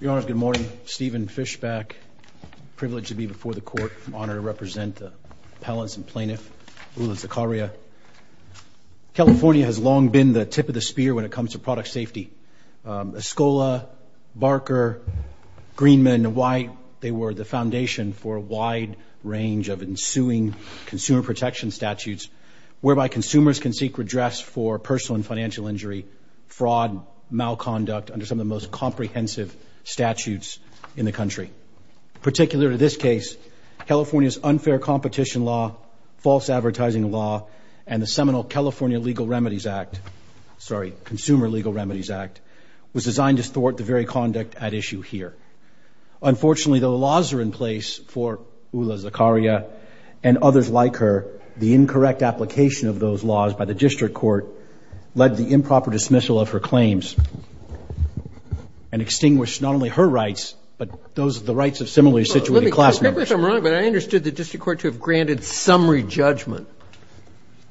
Your Honor, good morning. Stephen Fischbach, privileged to be before the Court, honored to represent the appellants and plaintiffs, Oula Zakaria. California has long been the tip of the spear when it comes to product safety. Escola, Barker, Greenman, White, they were the foundation for a wide range of ensuing consumer protection statutes whereby consumers can seek redress for personal and financial injury, fraud, malconduct, under some of the most comprehensive statutes in the country. Particular to this case, California's unfair competition law, false advertising law, and the seminal California Legal Remedies Act, sorry, Consumer Legal Remedies Act, was designed to thwart the very conduct at issue here. Unfortunately, the laws are in place for Oula Zakaria and others like her. The incorrect application of those laws by the district court led to improper dismissal of her claims and extinguished not only her rights, but those of the rights of similarly situated class members. Let me correct me if I'm wrong, but I understood the district court to have granted summary judgment.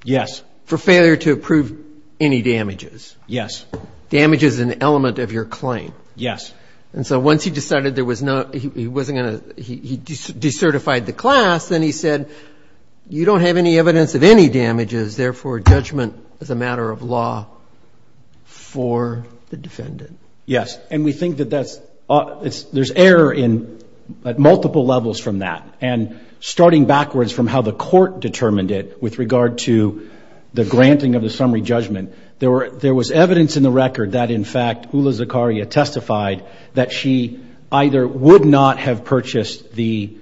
Yes. For failure to approve any damages. Yes. Damage is an element of your claim. Yes. And so once he decided there was no, he wasn't going to, he decertified the class, then he said, you don't have any evidence of any damages, therefore judgment is a matter of law for the defendant. Yes. And we think that that's, there's error in, at multiple levels from that. And starting backwards from how the court determined it with regard to the granting of the summary judgment, there were, there was evidence in the record that in fact, there would not have purchased the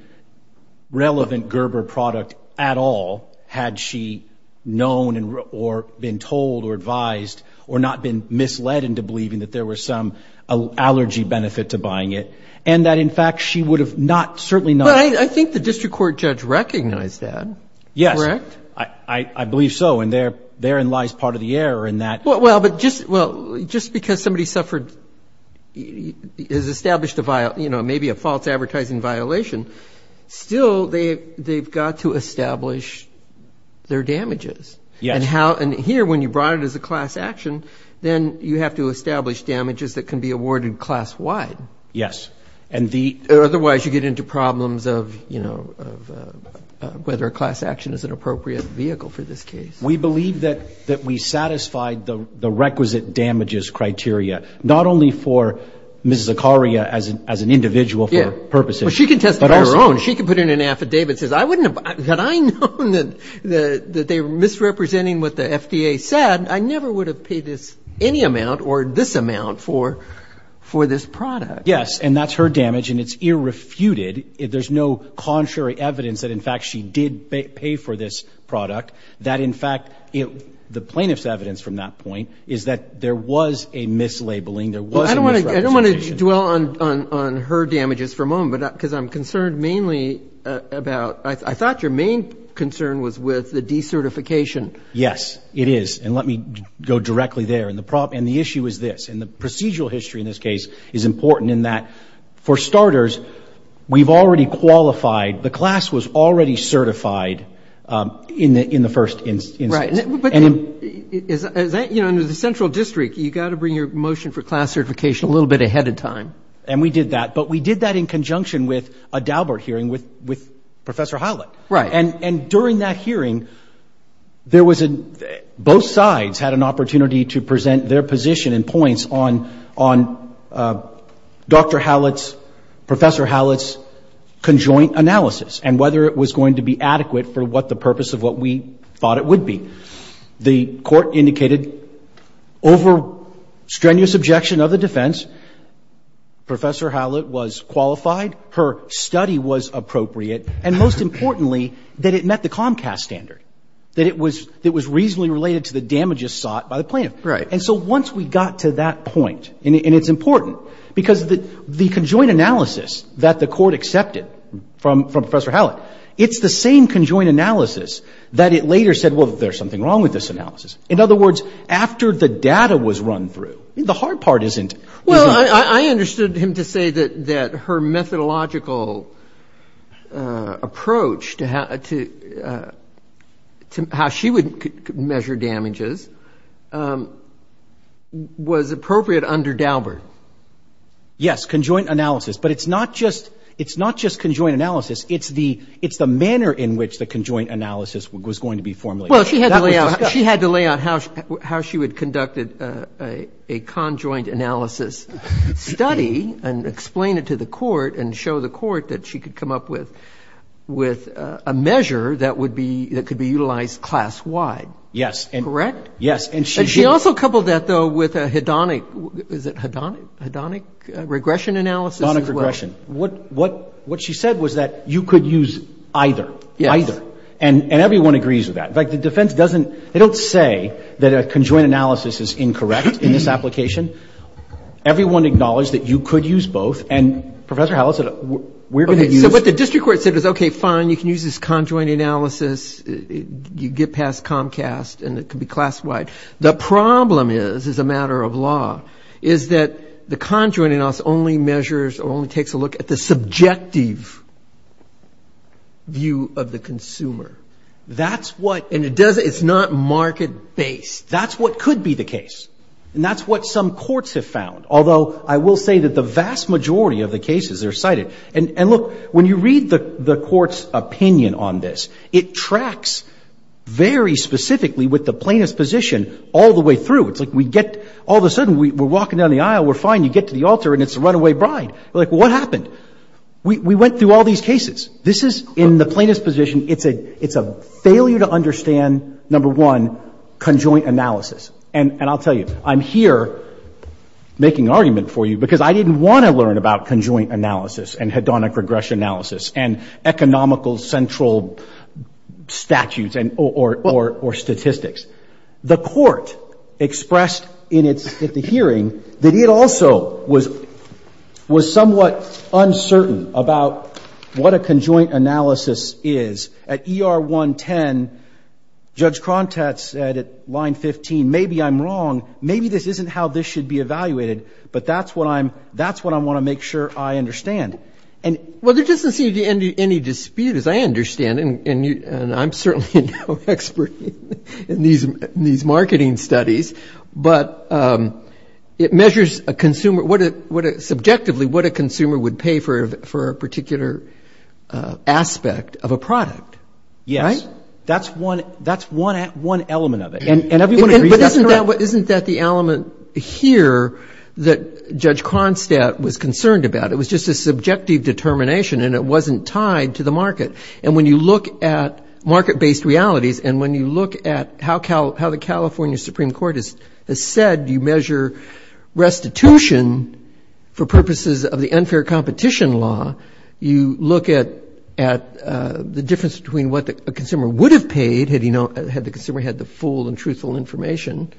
relevant Gerber product at all, had she known or been told or advised or not been misled into believing that there was some allergy benefit to buying it. And that in fact, she would have not, certainly not. I think the district court judge recognized that. Yes. Correct? I believe so. And there, therein lies part of the error in that. Well, but just, well, just because somebody suffered, has established a vial, you know, maybe a false advertising violation, still they, they've got to establish their damages and how, and here when you brought it as a class action, then you have to establish damages that can be awarded class wide. Yes. And the, otherwise you get into problems of, you know, of whether a class action is an appropriate vehicle for this case. We believe that, that we satisfied the requisite damages criteria, not only for Ms. Zakaria as an, as an individual for purposes. But she can test it on her own. She can put in an affidavit that says, I wouldn't have, had I known that, that they were misrepresenting what the FDA said, I never would have paid this, any amount or this amount for, for this product. Yes. And that's her damage and it's irrefuted. There's no contrary evidence that in fact she did pay for this product, that in fact, the plaintiff's evidence from that point is that there was a mislabeling. There was a misrepresentation. Well, I don't want to, I don't want to dwell on, on, on her damages for a moment because I'm concerned mainly about, I thought your main concern was with the decertification. Yes, it is. And let me go directly there. And the problem, and the issue is this, and the procedural history in this case is important in that, for starters, we've already qualified, the class was already certified in the, in the first instance. Right. But is that, you know, under the central district, you've got to bring your motion for class certification a little bit ahead of time. And we did that, but we did that in conjunction with a Daubert hearing with, with Professor Howlett. Right. And, and during that hearing, there was a, both sides had an opportunity to present their position and points on, on Dr. Howlett's, Professor Howlett's conjoint analysis and whether it was going to be adequate for what the purpose of what we thought it would be. The court indicated over strenuous objection of the defense, Professor Howlett was qualified, her study was appropriate, and most importantly, that it met the Comcast standard, that it was, it was reasonably related to the damages sought by the plaintiff. Right. And so once we got to that point, and it's important because the, the conjoint analysis that the court accepted from, from Professor Howlett, it's the same conjoint analysis that it later said, well, there's something wrong with this analysis. In other words, after the data was run through, the hard part isn't. Well, I, I understood him to say that, that her methodological approach to how, to, to how she would measure damages was appropriate under Daubert. Yes, conjoint analysis, but it's not just, it's not just conjoint analysis, it's the, it's the manner in which the conjoint analysis was going to be formulated. Well, she had to lay out, she had to lay out how, how she would conduct a, a conjoint analysis study and explain it to the court and show the court that she could come up with, with a measure that would be, that could be utilized class-wide. Yes. Correct? Yes. And she also coupled that, though, with a hedonic, is it hedonic, hedonic regression analysis? Hedonic regression. Hedonic regression. What, what, what she said was that you could use either. Yes. Either. And, and everyone agrees with that. In fact, the defense doesn't, they don't say that a conjoint analysis is incorrect in this application. Everyone acknowledged that you could use both, and Professor Howell said, we're going to use. Okay, so what the district court said was, okay, fine, you can use this conjoint analysis, you get past Comcast, and it could be class-wide. The problem is, as a matter of law, is that the conjoint analysis only measures, or only takes a look at the subjective view of the consumer. That's what, and it doesn't, it's not market-based. That's what could be the case. And that's what some courts have found. Although, I will say that the vast majority of the cases are cited. And, and look, when you read the, the court's opinion on this, it tracks very specifically with the plaintiff's position all the way through. It's like we get, all of a sudden, we, we're walking down the aisle, we're fine, you get to the altar, and it's a runaway bride. Like, what happened? We, we went through all these cases. This is, in the plaintiff's position, it's a, it's a failure to understand, number one, conjoint analysis. And, and I'll tell you, I'm here making an argument for you because I didn't want to learn about conjoint analysis and hedonic regression analysis and economical central statutes and, or, or, or statistics. The court expressed in its, at the hearing that it also was, was somewhat uncertain about what a conjoint analysis is. At ER 110, Judge Krontat said at line 15, maybe I'm wrong, maybe this isn't how this should be evaluated, but that's what I'm, that's what I want to make sure I understand. And, well, there doesn't seem to be any dispute, as I understand, and, and you, and I'm certainly no expert in these, in these marketing studies, but it measures a consumer, what a, what a, subjectively, what a consumer would pay for, for a particular aspect of a product. Yes. Right? That's one, that's one, one element of it. And, and everyone agrees that's correct. But isn't that, isn't that the element here that Judge Krontat was concerned about? It was just a subjective determination, and it wasn't tied to the market. And when you look at market-based realities, and when you look at how, how the California Supreme Court has said you measure restitution for purposes of the unfair competition law, you look at, at the difference between what a consumer would have paid had he not, had the consumer had the full and truthful information,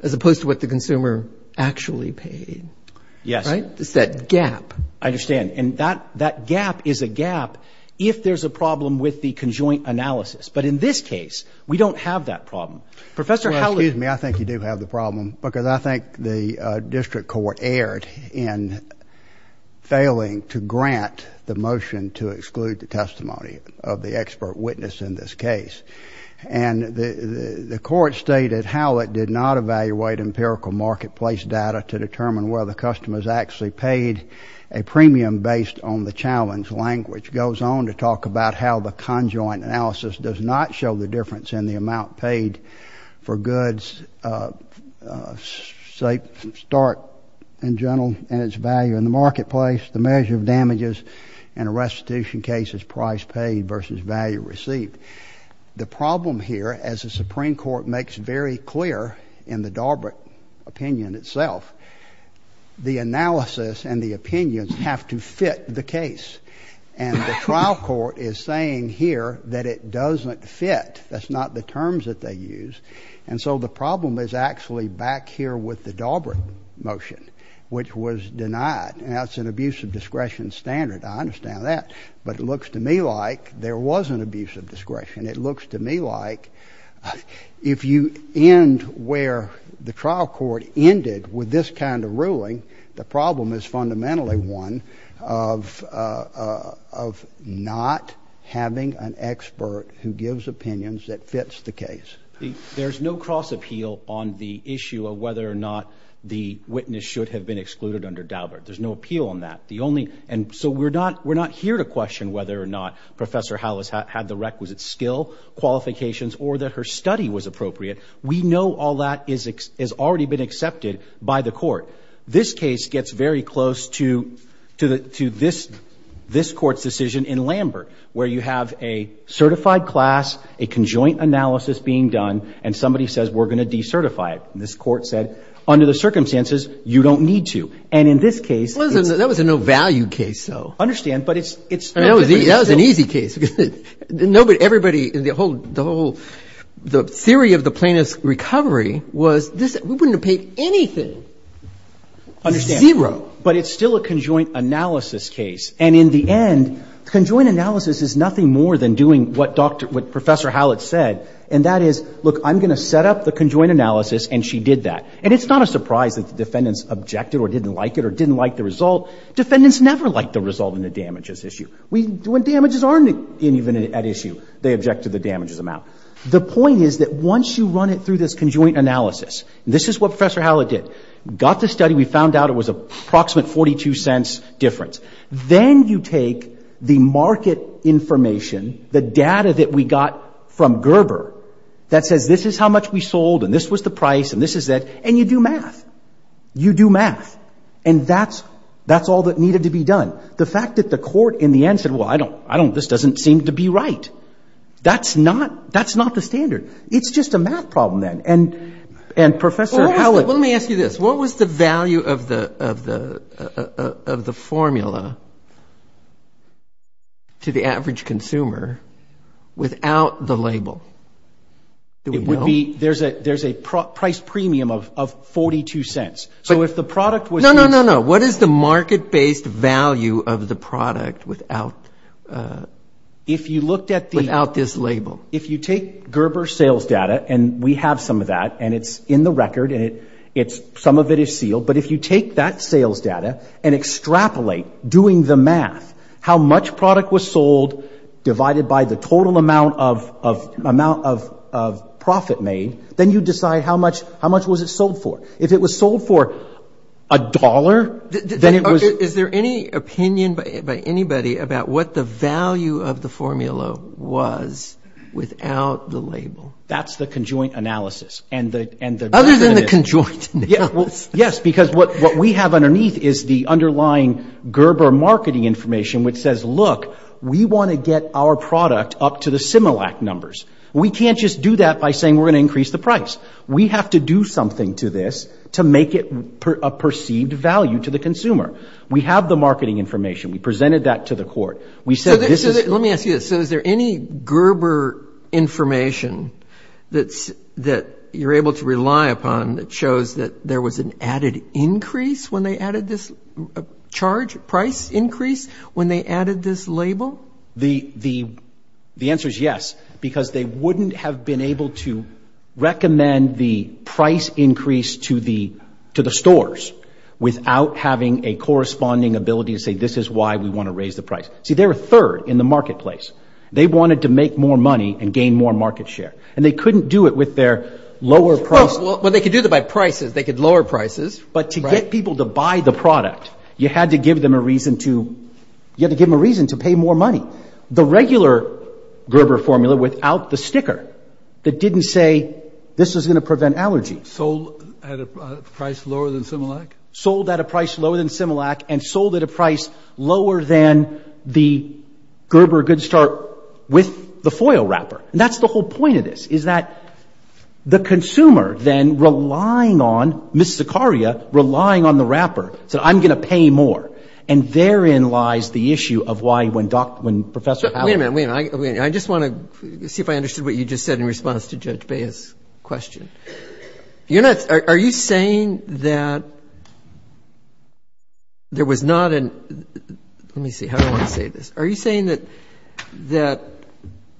as opposed to what the consumer actually paid. Yes. Right? It's that gap. I understand. And that, that gap is a gap if there's a problem with the conjoint analysis. But in this case, we don't have that problem. Professor Howlett. Well, excuse me, I think you do have the problem, because I think the district court erred in failing to grant the motion to exclude the testimony of the expert witness in this case. And the, the court stated Howlett did not evaluate empirical marketplace data to determine whether the customer's actually paid a premium based on the challenge language. Goes on to talk about how the conjoint analysis does not show the difference in the amount paid for goods, say, start in general, and its value in the marketplace, the measure of damages in a restitution case's price paid versus value received. The problem here, as the Supreme Court makes very clear in the Daubert opinion itself, the analysis and the opinions have to fit the case. And the trial court is saying here that it doesn't fit. That's not the terms that they use. And so the problem is actually back here with the Daubert motion, which was denied. And that's an abuse of discretion standard. I understand that. But it looks to me like there was an abuse of discretion. It looks to me like if you end where the trial court ended with this kind of ruling, the problem is fundamentally one of, of not having an expert who gives opinions that fits the case. There's no cross appeal on the issue of whether or not the witness should have been excluded under Daubert. There's no appeal on that. The only, and so we're not, we're not here to question whether or not Professor Hallis had the requisite skill qualifications or that her study was appropriate. We know all that is, is already been accepted by the court. This case gets very close to, to the, to this, this court's decision in Lambert, where you have a certified class, a conjoint analysis being done, and somebody says, we're going to decertify it. And this court said, under the circumstances, you don't need to. And in this case, That was a no value case though. I understand, but it's, it's No, that was an easy case. Nobody, everybody, the whole, the whole, the theory of the plaintiff's recovery was this, we wouldn't have paid anything. Understand. Zero. But it's still a conjoint analysis case. And in the end, conjoint analysis is nothing more than doing what doctor, what Professor Hallis said. And that is, look, I'm going to set up the conjoint analysis, and she did that. And it's not a surprise that the defendants objected or didn't like it or didn't like the result. Defendants never liked the result in the damages issue. When damages aren't even an issue, they object to the damages amount. The point is that once you run it through this conjoint analysis, this is what Professor Hallis did. Got the study, we found out it was an approximate 42 cents difference. Then you take the market information, the data that we got from Gerber that says this is how much we sold, and this was the price, and this is that, and you do math. You do math. And that's, that's all that needed to be done. The fact that the court in the end said, well, I don't, I don't, this doesn't seem to be right. That's not, that's not the standard. It's just a math problem then. And, and Professor Hallis... Well, let me ask you this. What was the value of the, of the, of the formula to the average consumer without the label? It would be, there's a, there's a price premium of, of 42 cents. So if the product was... No, no, no. What is the market-based value of the product without, if you looked at the... Without this label. If you take Gerber sales data, and we have some of that, and it's in the record, and it, it's, some of it is sealed. But if you take that sales data and extrapolate, doing the math, how much product was sold divided by the total amount of, of, amount of, of profit made, then you decide how much, how much was it sold for. If it was sold for a dollar, then it was... Is there any opinion by, by anybody about what the value of the formula was without the label? That's the conjoint analysis. And the, and the... Other than the conjoint analysis. Yes, because what, what we have underneath is the underlying Gerber marketing information, which says, look, we want to get our product up to the Similac numbers. We can't just do that by saying we're going to increase the price. We have to do something to this to make it a perceived value to the consumer. We have the marketing information. We presented that to the court. We said this is... So, let me ask you this. So, is there any Gerber information that's, that you're able to rely upon that shows that there was an added increase when they added this charge, price increase when they added this label? The, the, the answer is yes. Because they wouldn't have been able to recommend the price increase to the, to the stores without having a corresponding ability to say this is why we want to raise the price. See, they're a third in the marketplace. They wanted to make more money and gain more market share. And they couldn't do it with their lower price... Well, they could do it by prices. They could lower prices. But to get people to buy the product, you had to give them a reason to, you had to give them a reason to pay more money. The regular Gerber formula without the sticker that didn't say this is going to prevent allergy... Sold at a price lower than Similac? Sold at a price lower than Similac and sold at a price lower than the Gerber Good Start with the foil wrapper. And that's the whole point of this, is that the consumer then relying on Ms. Zakaria, relying on the wrapper, said I'm going to pay more. And therein lies the issue of why when Dr., when Professor... Wait a minute, wait a minute. I just want to see if I understood what you just said in response to Judge Baez's question. You're not, are you saying that there was not an, let me see, how do I want to say this? Are you saying that, that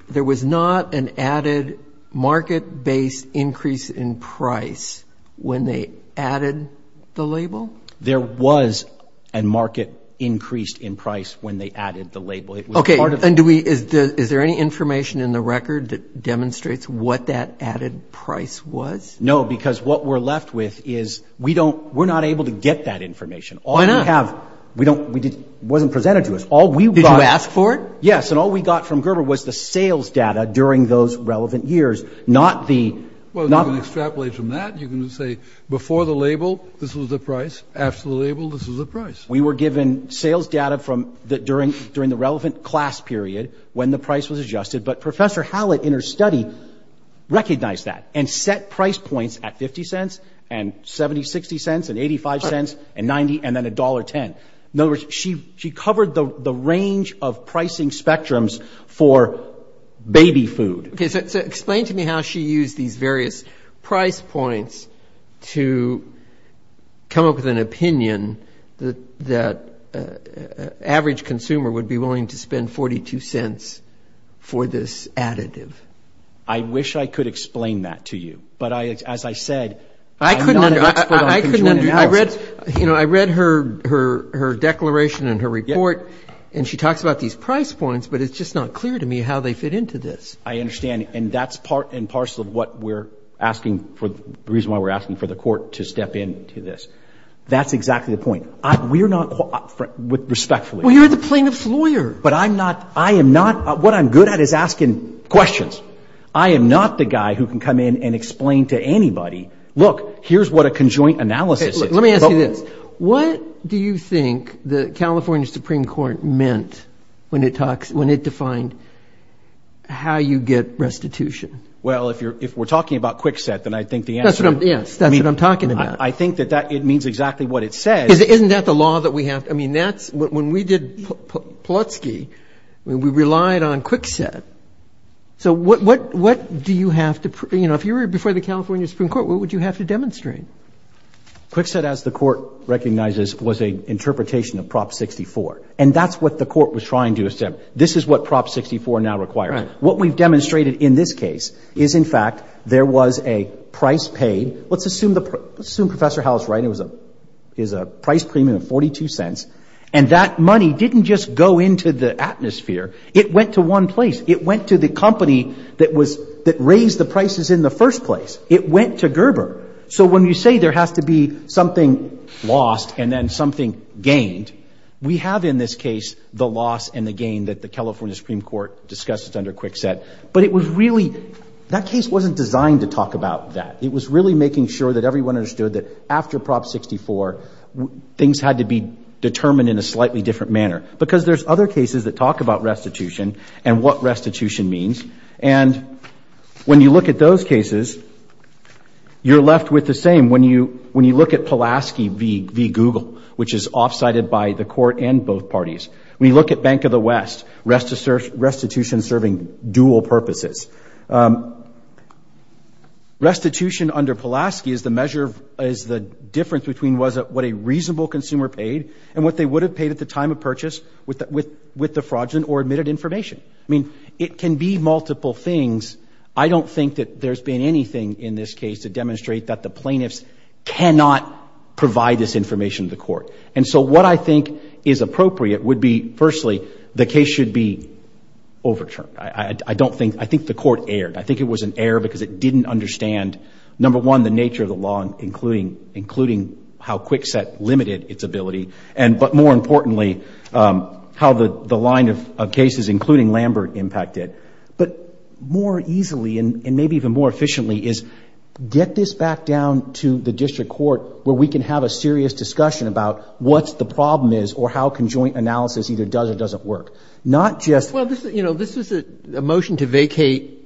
there was not an added market-based increase in price when they added the label? There was a market increase in price when they added the label. Okay, and do we, is there any information in the record that demonstrates what that added price was? No, because what we're left with is we don't, we're not able to get that information. Why not? We don't, it wasn't presented to us. Did you ask for it? Yes, and all we got from Gerber was the sales data during those relevant years, not the... Well, you can extrapolate from that. You can say before the label, this was the price. After the label, this was the price. We were given sales data from, during the relevant class period when the price was adjusted, but Professor Hallett in her study recognized that and set price points at 50 cents and 70, 60 cents and 85 cents and 90 and then $1.10. In other words, she covered the range of pricing spectrums for baby food. Okay, so explain to me how she used these various price points to come up with an opinion that an average consumer would be willing to spend 42 cents for this additive. I wish I could explain that to you, but as I said, I'm not an expert on consumer analysis. I read her declaration and her report and she talks about these price points, but it's just not clear to me how they fit into this. I understand, and that's part and parcel of what we're asking for, the reason why we're asking for the court to step in to this. That's exactly the point. We're not, respectfully... Well, you're the plaintiff's lawyer. But I'm not, I am not, what I'm good at is asking questions. I am not the guy who can come in and explain to anybody, look, here's what a conjoint analysis is. Let me ask you this. What do you think the California Supreme Court meant when it defined how you get restitution? Well, if we're talking about Kwikset, then I think the answer... Yes, that's what I'm talking about. I think that it means exactly what it says. Isn't that the law that we have? I mean, that's, when we did Plutsky, we relied on Kwikset. So what do you have to, you know, if you were before the California Supreme Court, what would you have to demonstrate? Kwikset, as the court recognizes, was an interpretation of Prop 64. And that's what the court was trying to assemble. This is what Prop 64 now requires. What we've demonstrated in this case is, in fact, there was a price paid. Let's assume Professor Howell's right. It was a price premium of 42 cents. And that money didn't just go into the atmosphere. It went to one place. It went to the company that was, that raised the prices in the first place. It went to Gerber. So when you say there has to be something lost and then something gained, we have in this case the loss and the gain that the California Supreme Court discussed under Kwikset. But it was really, that case wasn't designed to talk about that. It was really making sure that everyone understood that after Prop 64, things had to be determined in a slightly different manner. Because there's other cases that talk about restitution and what restitution means. And when you look at those cases, you're left with the same. When you look at Pulaski v. Google, which is offsided by the court and both parties. When you look at Bank of the West, restitution serving dual purposes. Restitution under Pulaski is the measure, is the difference between what a reasonable consumer paid and what they would have paid at the time of purchase with the fraudulent or admitted information. I mean, it can be multiple things. I don't think that there's been anything in this case to demonstrate that the plaintiffs cannot provide this information to the court. And so what I think is appropriate would be, firstly, the case should be overturned. I think the court erred. I think it was an error because it didn't understand number one, the nature of the law, including how Kwikset limited its ability. But more importantly, how the line of cases, including Lambert, impacted. But more easily, and maybe even more efficiently, is get this back down to the district court where we can have a serious discussion about what the problem is or how conjoint analysis either does or doesn't work. Not just... Well, this was a motion to vacate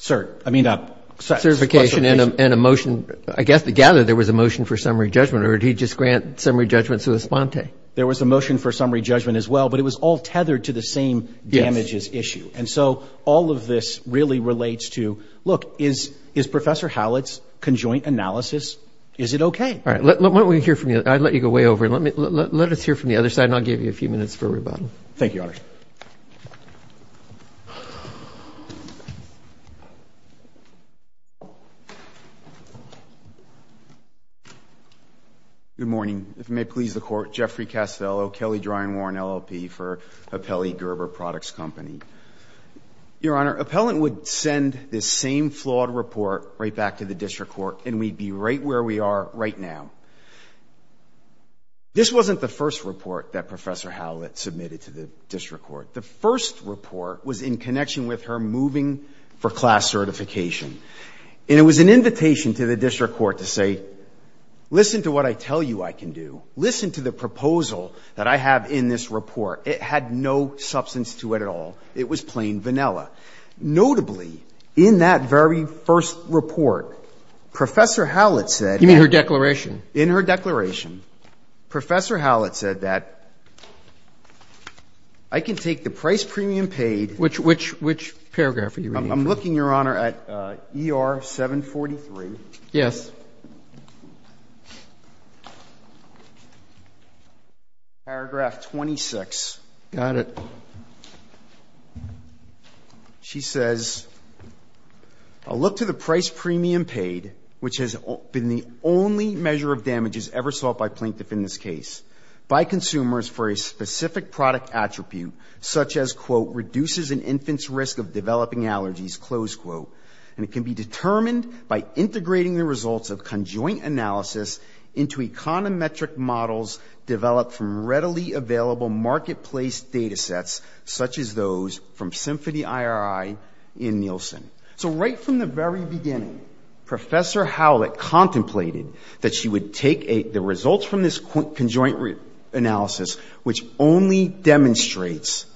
certification and a motion... I guess, together, there was a motion for summary judgment or did he just grant summary judgment sui sponte? There was a motion for summary judgment as well, but it was all tethered to the same damages issue. And so all of this really relates to, look, is Professor Hallett's conjoint analysis, is it okay? All right. Why don't we hear from you? I'll let you go way over. Let us hear from the other side and I'll give you a few minutes for rebuttal. Thank you, Your Honor. Good morning. If it may please the Court, Jeffrey Castello, Kelly Dryen Warren, LLP for Apelli Gerber Products Company. Your Honor, Appellant would send this same flawed report right back to the District Court and we'd be right where we are right now. This wasn't the first report that Professor Hallett submitted to the District Court. The first report was in connection with her moving for class certification. And it was an invitation to the District Court to say, listen to what I tell you I can do. Listen to the proposal that I have in this report. It had no substance to it at all. It was plain vanilla. Notably, in that very first report, Professor Hallett said... You mean her declaration? In her declaration, Professor Hallett said that I can take the price premium paid... Which paragraph are you reading from? I'm looking, Your Honor, at ER 743. Yes. Paragraph 26. Got it. She says, I'll look to the price premium paid, which has been the only measure of damages ever sought by plaintiff in this case, by consumers for a specific product attribute such as, quote, reduces an infant's risk of developing allergies, close quote. And it can be determined by integrating the results of conjoint analysis into econometric models developed from readily available marketplace datasets, such as those from Symphony IRI in Nielsen. So right from the very beginning, Professor Hallett contemplated that she would take the results from this conjoint analysis, which only demonstrates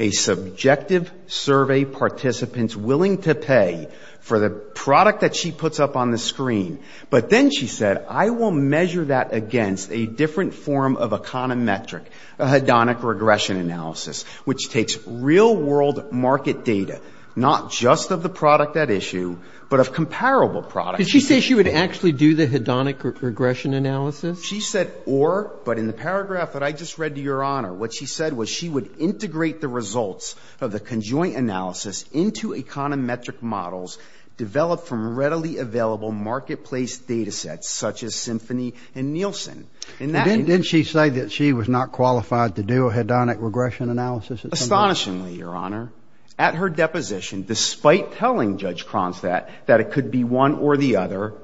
a subjective survey participants willing to pay for the product that she puts up on the screen. But then she said, I will measure that against a different form of econometric hedonic regression analysis, which takes real world market data, not just of the product at issue, but of comparable products. Did she say she would actually do the hedonic regression analysis? She said or, but in the paragraph that I just read to Your Honor, what she said was she would integrate the results of the conjoint analysis into econometric models developed from readily available marketplace datasets, such as Symphony and Nielsen. Didn't she say that she was not qualified to do a hedonic regression analysis? Astonishingly, Your Honor. At her deposition, despite telling Judge Kronstadt that it could be one or the other,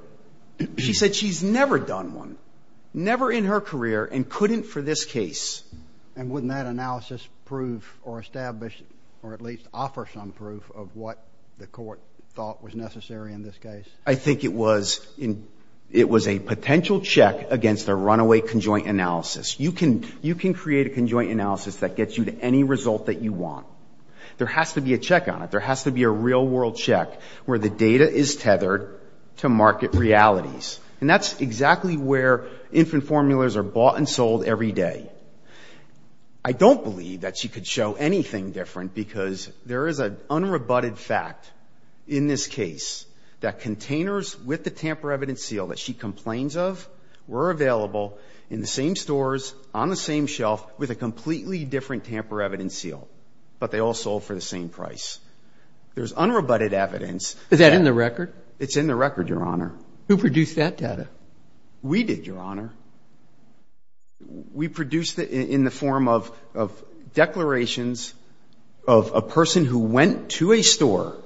she said she's never done one. Never in her career and couldn't for this case. And wouldn't that analysis prove or establish or at least offer some proof of what the court thought was necessary in this case? I think it was a potential check against a runaway conjoint analysis. You can create a conjoint analysis that gets you to any result that you want. There has to be a check on it. There has to be a real world check where the data is tethered to market realities. And that's exactly where infant formulas are bought and sold every day. I don't believe that she could show anything different because there is an unrebutted fact in this case that containers with the tamper evidence seal that she complains of were available in the same stores, on the same shelf, with a completely different tamper evidence seal. But they all sold for the same price. There's unrebutted evidence. Is that in the record? It's in the record, Your Honor. Who produced that data? We did, Your Honor. We produced it in the form of declarations of a person who went to a store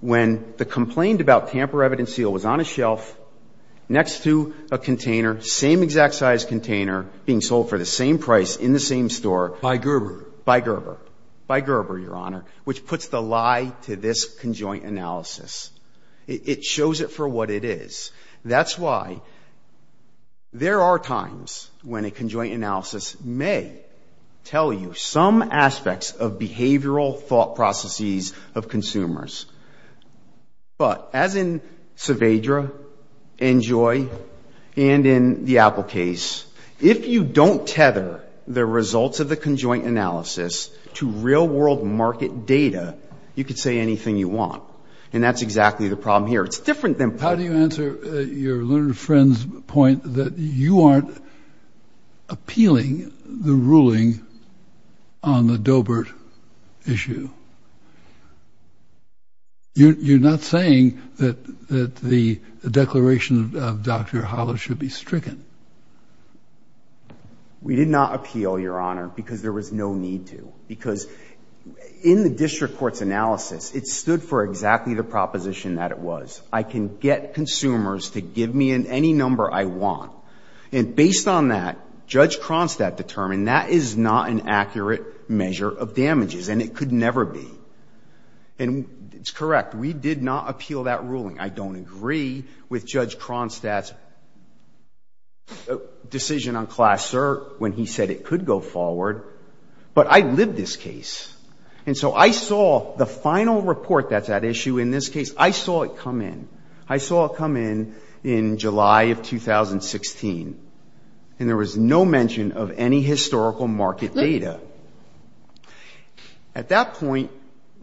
when the complaint about tamper evidence seal was on a shelf next to a container, same exact size container, being sold for the same price in the same store. By Gerber. By Gerber. By Gerber, Your Honor. Which puts the lie to this conjoint analysis. It shows it for what it is. That's why there are times when a conjoint analysis may tell you some aspects of behavioral thought processes of consumers. But, as in Saavedra and Joy and in the Apple case, if you don't tether the results of the conjoint analysis to real world market data, you can say anything you want. And that's exactly the problem here. It's different than... How do you answer your learned friend's point that you aren't appealing the ruling on the Doebert issue? You're not saying that the declaration of Dr. Hollis should be stricken. We did not appeal, Your Honor, because there was no need to. Because in the district court's analysis, it stood for exactly the proposition that it was. I can get consumers to give me any number I want. And based on that, Judge Cronstadt determined that is not an accurate measure of damages. And it could never be. And it's correct. We did not appeal that ruling. I don't agree with Judge Cronstadt's decision on class cert when he said it could go forward. But I lived this case. And so I saw the final report that's at issue in this case, I saw it come in. I saw it come in in July of 2016. And there was no mention of any historical market data. At that point,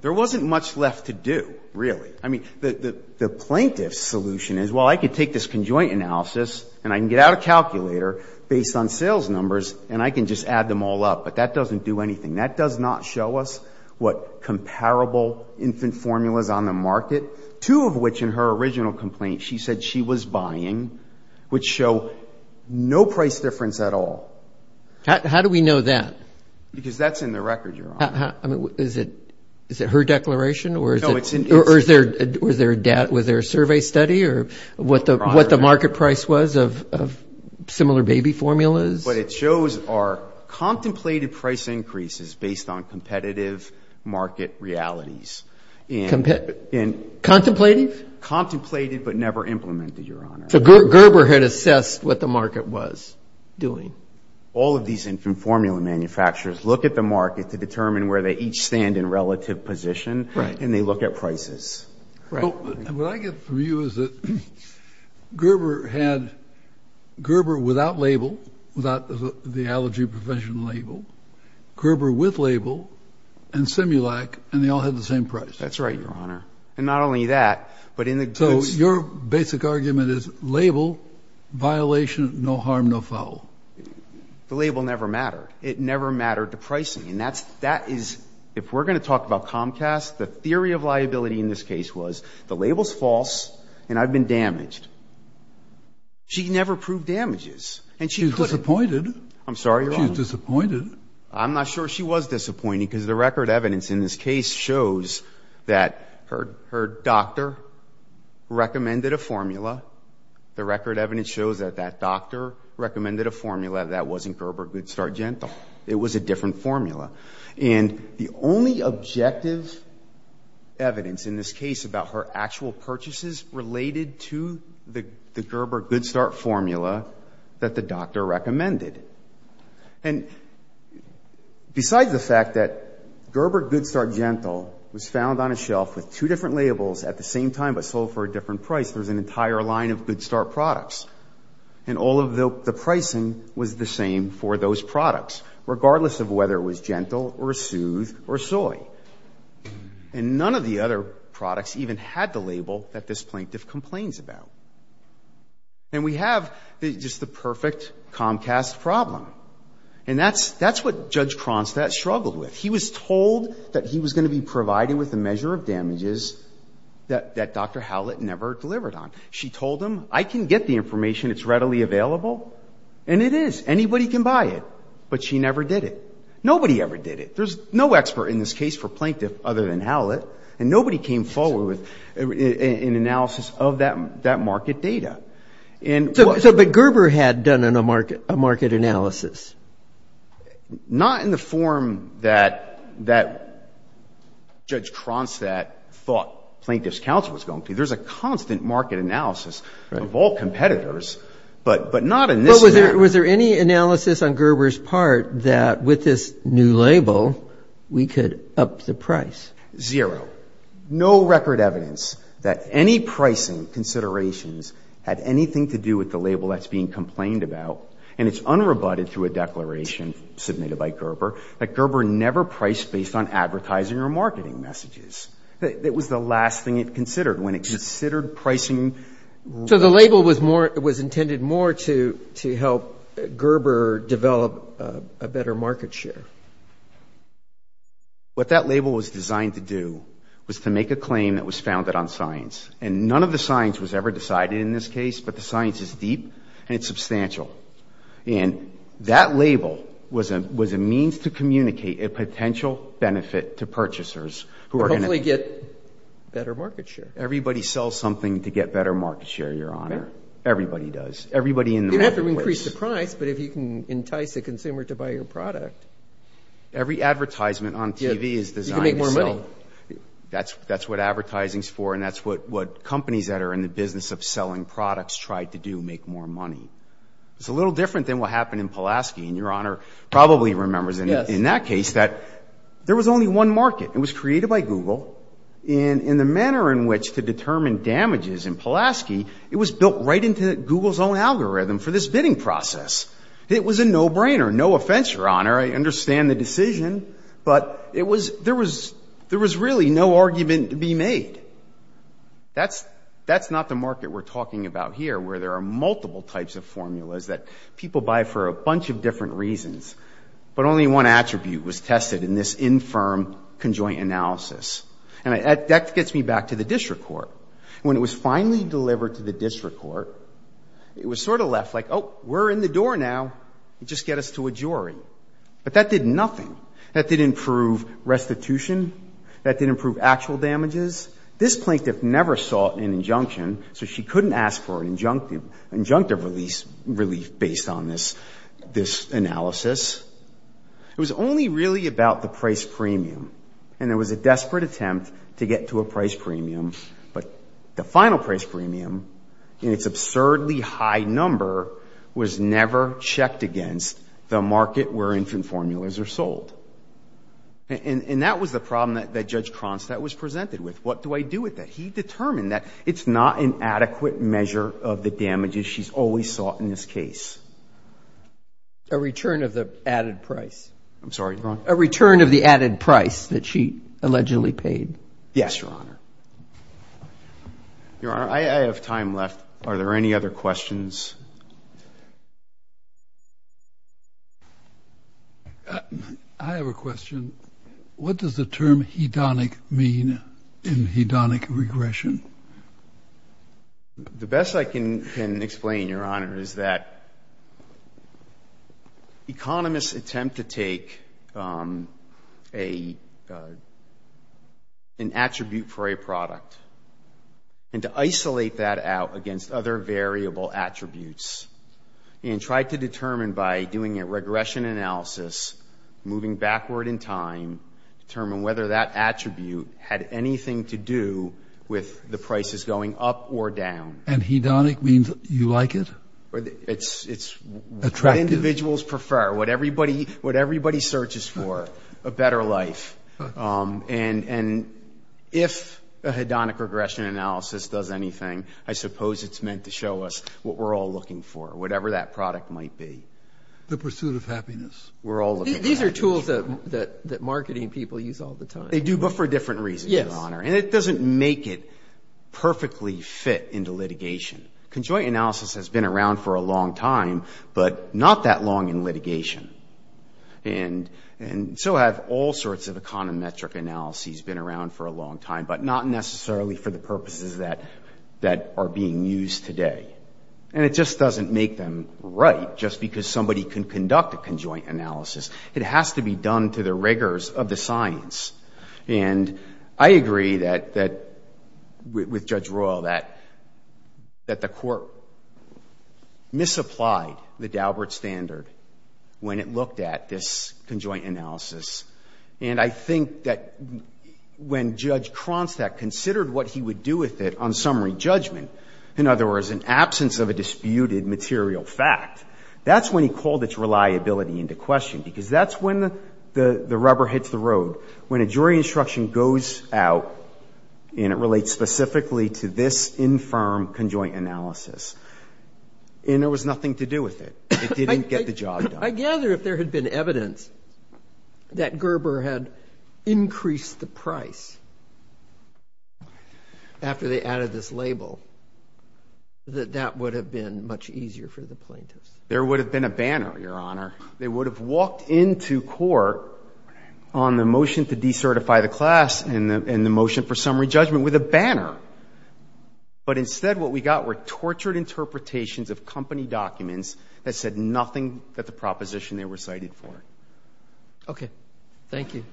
there wasn't much left to do, really. The plaintiff's solution is, well, I could take this conjoint analysis and I can get out a calculator based on sales numbers and I can just add them all up. But that doesn't do anything. That does not show us what comparable infant formulas on the market, two of which in her original complaint, she said she was buying, which show no price difference at all. How do we know that? Because that's in the record, Your Honor. Is it her declaration or is there a survey study or what the market price was of similar baby formulas? What it shows are contemplated price increases based on competitive market realities. Contemplative? Contemplated but never implemented, Your Honor. Gerber had assessed what the market was doing. All of these infant formula manufacturers look at the market to determine where they each stand in relative position and they look at prices. What I get from you is that Gerber had Gerber without label without the allergy prevention label, Gerber with label and Simulac and they all had the same price. That's right, Your Honor. And not only that, but in the goods... Label, violation, no harm, no foul. The label never mattered. It never mattered to pricing and that is if we're going to talk about Comcast, the theory of liability in this case was the label's false and I've been damaged. She never proved damages. She's disappointed. I'm sorry, Your Honor. She's disappointed. I'm not sure she was disappointed because the record evidence in this case shows that her doctor recommended a formula. The record evidence shows that that doctor recommended a formula that wasn't Gerber Good Start Gentle. It was a different formula. And the only objective evidence in this case about her actual purchases related to the Gerber Good Start formula that the doctor recommended. And besides the fact that Gerber Good Start Gentle was found on a shelf with two different labels at the same time but sold for a different price, there's an entire line of Good Start products and all of the pricing was the same for those products regardless of whether it was Gentle or Soothe or Soy. And none of the other products even had the label that this plaintiff complains about. And we have just the perfect Comcast problem and that's what Judge Kronstadt struggled with. He was told that he was going to be provided with a measure of damages that Dr. Howlett never delivered on. She told him, I can get the information. It's readily available. And it is. Anybody can buy it. But she never did it. Nobody ever did it. There's no expert in this case for Plaintiff other than Howlett. And nobody came forward with an analysis of that market data. But Gerber had done a market analysis. Not in the form that Judge Kronstadt thought Plaintiff's counsel was going to. There's a constant market analysis of all competitors, but not in this manner. Was there any analysis on Gerber's part that with this new label we could up the price? Zero. No record evidence that any pricing with the label that's being complained about. And it's unrebutted through a declaration submitted by Gerber, that Gerber never priced based on advertising or marketing messages. It was the last thing it considered when it considered pricing. So the label was intended more to help Gerber develop a better market share. What that label was designed to do was to make a claim that was founded on science. And none of the science was ever decided in this case, but the science is deep and it's substantial. And that label was a means to communicate a potential benefit to purchasers who are going to get better market share. Everybody sells something to get better market share, Your Honor. Everybody does. You don't have to increase the price, but if you can entice a consumer to buy your product. Every advertisement on TV is designed to sell. That's what advertising is for and that's what companies that are in the business of selling products try to make more money. It's a little different than what happened in Pulaski. Your Honor probably remembers in that case that there was only one market. It was created by Google in the manner in which to determine damages in Pulaski, it was built right into Google's own algorithm for this bidding process. It was a no-brainer. No offense, Your Honor. I understand the decision, but there was really no argument to be made. That's not the market we're talking about here where there are multiple types of formulas that people buy for a bunch of different reasons. But only one attribute was tested in this infirm conjoint analysis. That gets me back to the district court. When it was finally delivered to the district court, it was sort of left like, oh, we're in the door now. Just get us to a jury. But that did nothing. That didn't improve restitution. That didn't improve actual damages. This plaintiff never sought an injunction, so she couldn't ask for an injunctive relief based on this analysis. It was only really about the price premium. And there was a desperate attempt to get to a price premium, but the final price premium in its absurdly high number was never checked against the market where infant formulas are sold. And that was the problem that Judge Cronstadt was presented with. What do I do with that? He determined that it's not an adequate measure of the damages she's always sought in this case. A return of the added price. I'm sorry, you're wrong. A return of the added price that she allegedly paid. Yes, Your Honor. Your Honor, I have time left. Are there any other questions? I have a question. What does the term hedonic mean in hedonic regression? The best I can explain, Your Honor, is that economists attempt to take an attribute for a product and to isolate that out against other variable attributes and try to determine by doing a regression analysis moving backward in time determine whether that attribute had anything to do with the prices going up or down. And hedonic means you like it? What individuals prefer. What everybody searches for. A better life. And if a hedonic regression analysis does anything, I suppose it's meant to show us what we're all looking for. Whatever that product might be. The pursuit of happiness. These are tools that marketing people use all the time. They do, but for different reasons, Your Honor. And it doesn't make it perfectly fit into litigation. Conjoint analysis has been around for a long time, but not that long in litigation. And so have all sorts of econometric analyses been around for a long time, but not necessarily for the purposes that are being used today. And it just doesn't make them right just because somebody can conduct a conjoint analysis. It has to be done to the rigors of the science. And I agree that with Judge Royal that the Court misapplied the Daubert Standard when it looked at this conjoint analysis. And I think that when Judge Kronstadt considered what he would do with it on summary judgment, in other material fact, that's when he called its reliability into question because that's when the rubber hits the road. When a jury instruction goes out and it relates specifically to this infirm conjoint analysis and there was nothing to do with it. It didn't get the job done. I gather if there had been evidence that Gerber had increased the price after they added this label that that would have been much easier for the plaintiffs. There would have been a banner, Your Honor. They would have walked into court on the motion to decertify the class and the motion for summary judgment with a banner. But instead what we got were tortured interpretations of company documents that said nothing that the proposition they were cited for. Okay. Thank you.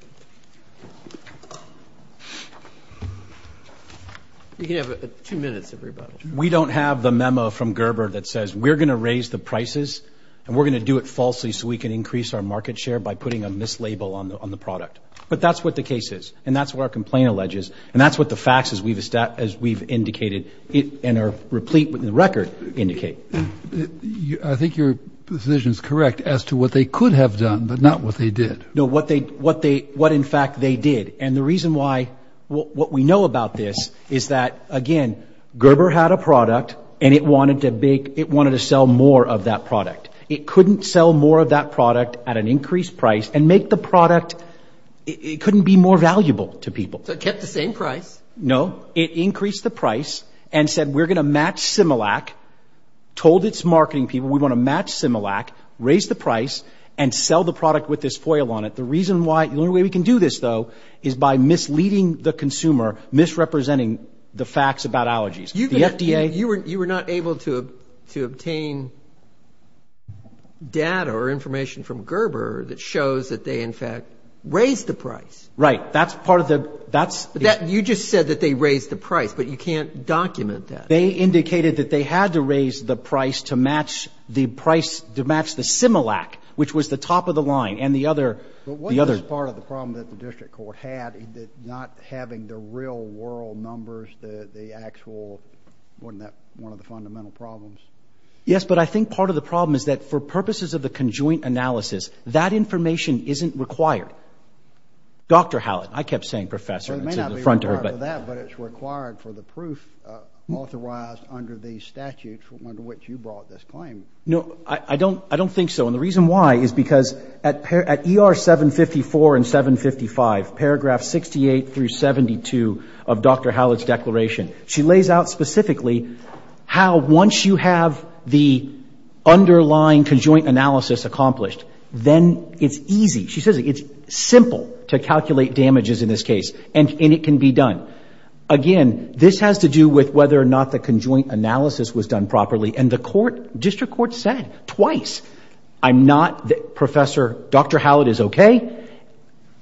You can have two minutes, everybody. We don't have the memo from Gerber that says we're going to raise the prices and we're going to do it falsely so we can increase our market share by putting a mislabel on the product. But that's what the case is and that's what our complaint alleges and that's what the facts as we've indicated and are replete with the record indicate. I think your position is correct as to what they could have done but not what they did. No, what they did but in fact they did and the reason why what we know about this is that, again, Gerber had a product and it wanted to sell more of that product. It couldn't sell more of that product at an increased price and make the product it couldn't be more valuable to people. So it kept the same price? No. It increased the price and said we're going to match Similac told its marketing people we want to match Similac, raise the price and sell the product with this The way they do this though is by misleading the consumer, misrepresenting the facts about allergies. You were not able to obtain data or information from Gerber that shows that they in fact raised the price. Right. That's part of the You just said that they raised the price but you can't document that. They indicated that they had to raise the price to match the price to match the Similac which was the top of the line Wasn't this part of the problem that the district court had not having the real world numbers the actual wasn't that one of the fundamental problems? Yes, but I think part of the problem is that for purposes of the conjoint analysis that information isn't required. Dr. Hallett I kept saying professor. It may not be required for that but it's required for the proof authorized under the statute under which you brought this claim. No, I don't think so and the reason why is because at ER 754 and 755 paragraph 68 through 72 of Dr. Hallett's declaration, she lays out specifically how once you have the underlying conjoint analysis accomplished then it's easy. She says it's simple to calculate damages in this case and it can be done. Again, this has to do with whether or not the conjoint analysis was done properly and the court district court said twice I'm not the professor Dr. Hallett is okay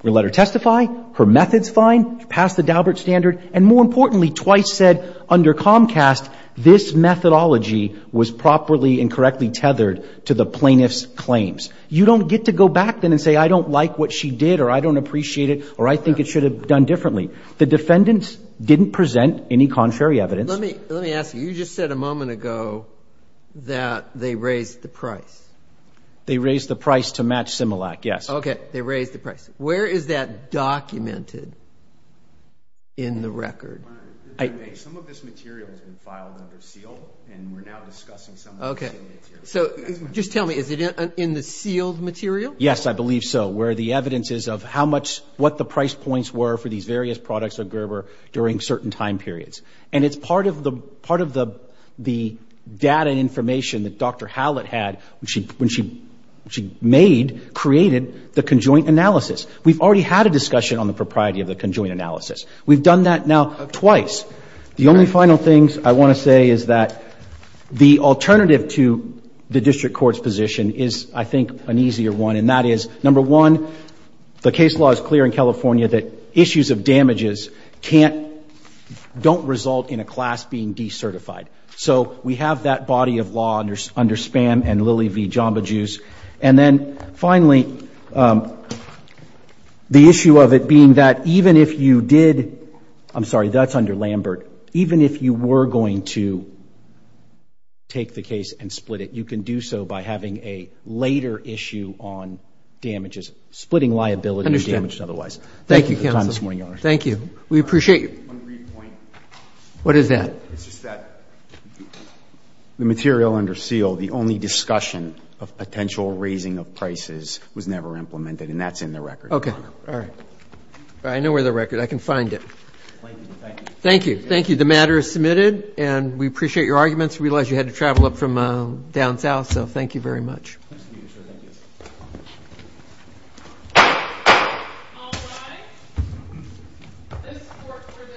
we'll let her testify. Her method's fine passed the Daubert standard and more importantly twice said under Comcast this methodology was properly and correctly tethered to the plaintiff's claims. You don't get to go back then and say I don't like what she did or I don't appreciate it or I think it should have done differently. The defendants didn't present any contrary evidence. Let me ask you. You just said a moment ago that they raised the price. They raised the price to match Similac yes. Okay, they raised the price. Where is that documented in the record? Some of this material has been filed under seal and we're now discussing some of this. Okay, so just tell me is it in the sealed material? Yes, I believe so where the evidence is of how much, what the price points were for these various products of Gerber during certain time periods. And it's part of the data information that Dr. Hallett had when she made, created the conjoint analysis. We've already had a discussion on the propriety of the conjoint analysis. We've done that now twice. The only final things I want to say is that the alternative to the district court's position is I think an easier one and that is number one the case law is clear in California that issues of damages can't, don't result in a class being decertified. So we have that body of law under SPAM and Lilly v. Jamba Juice and then finally the issue of it being that even if you did, I'm sorry that's under Lambert, even if you were going to take the case and split it, you can do so by having a later issue on damages, splitting liability and damage and otherwise. Thank you. We appreciate you. What is that? The material under seal, the only discussion of potential raising of prices was never implemented and that's in the record. Okay. I know where the record is. I can find it. Thank you. The matter is submitted and we appreciate your arguments. We realize you had to travel up from down south so thank you very much.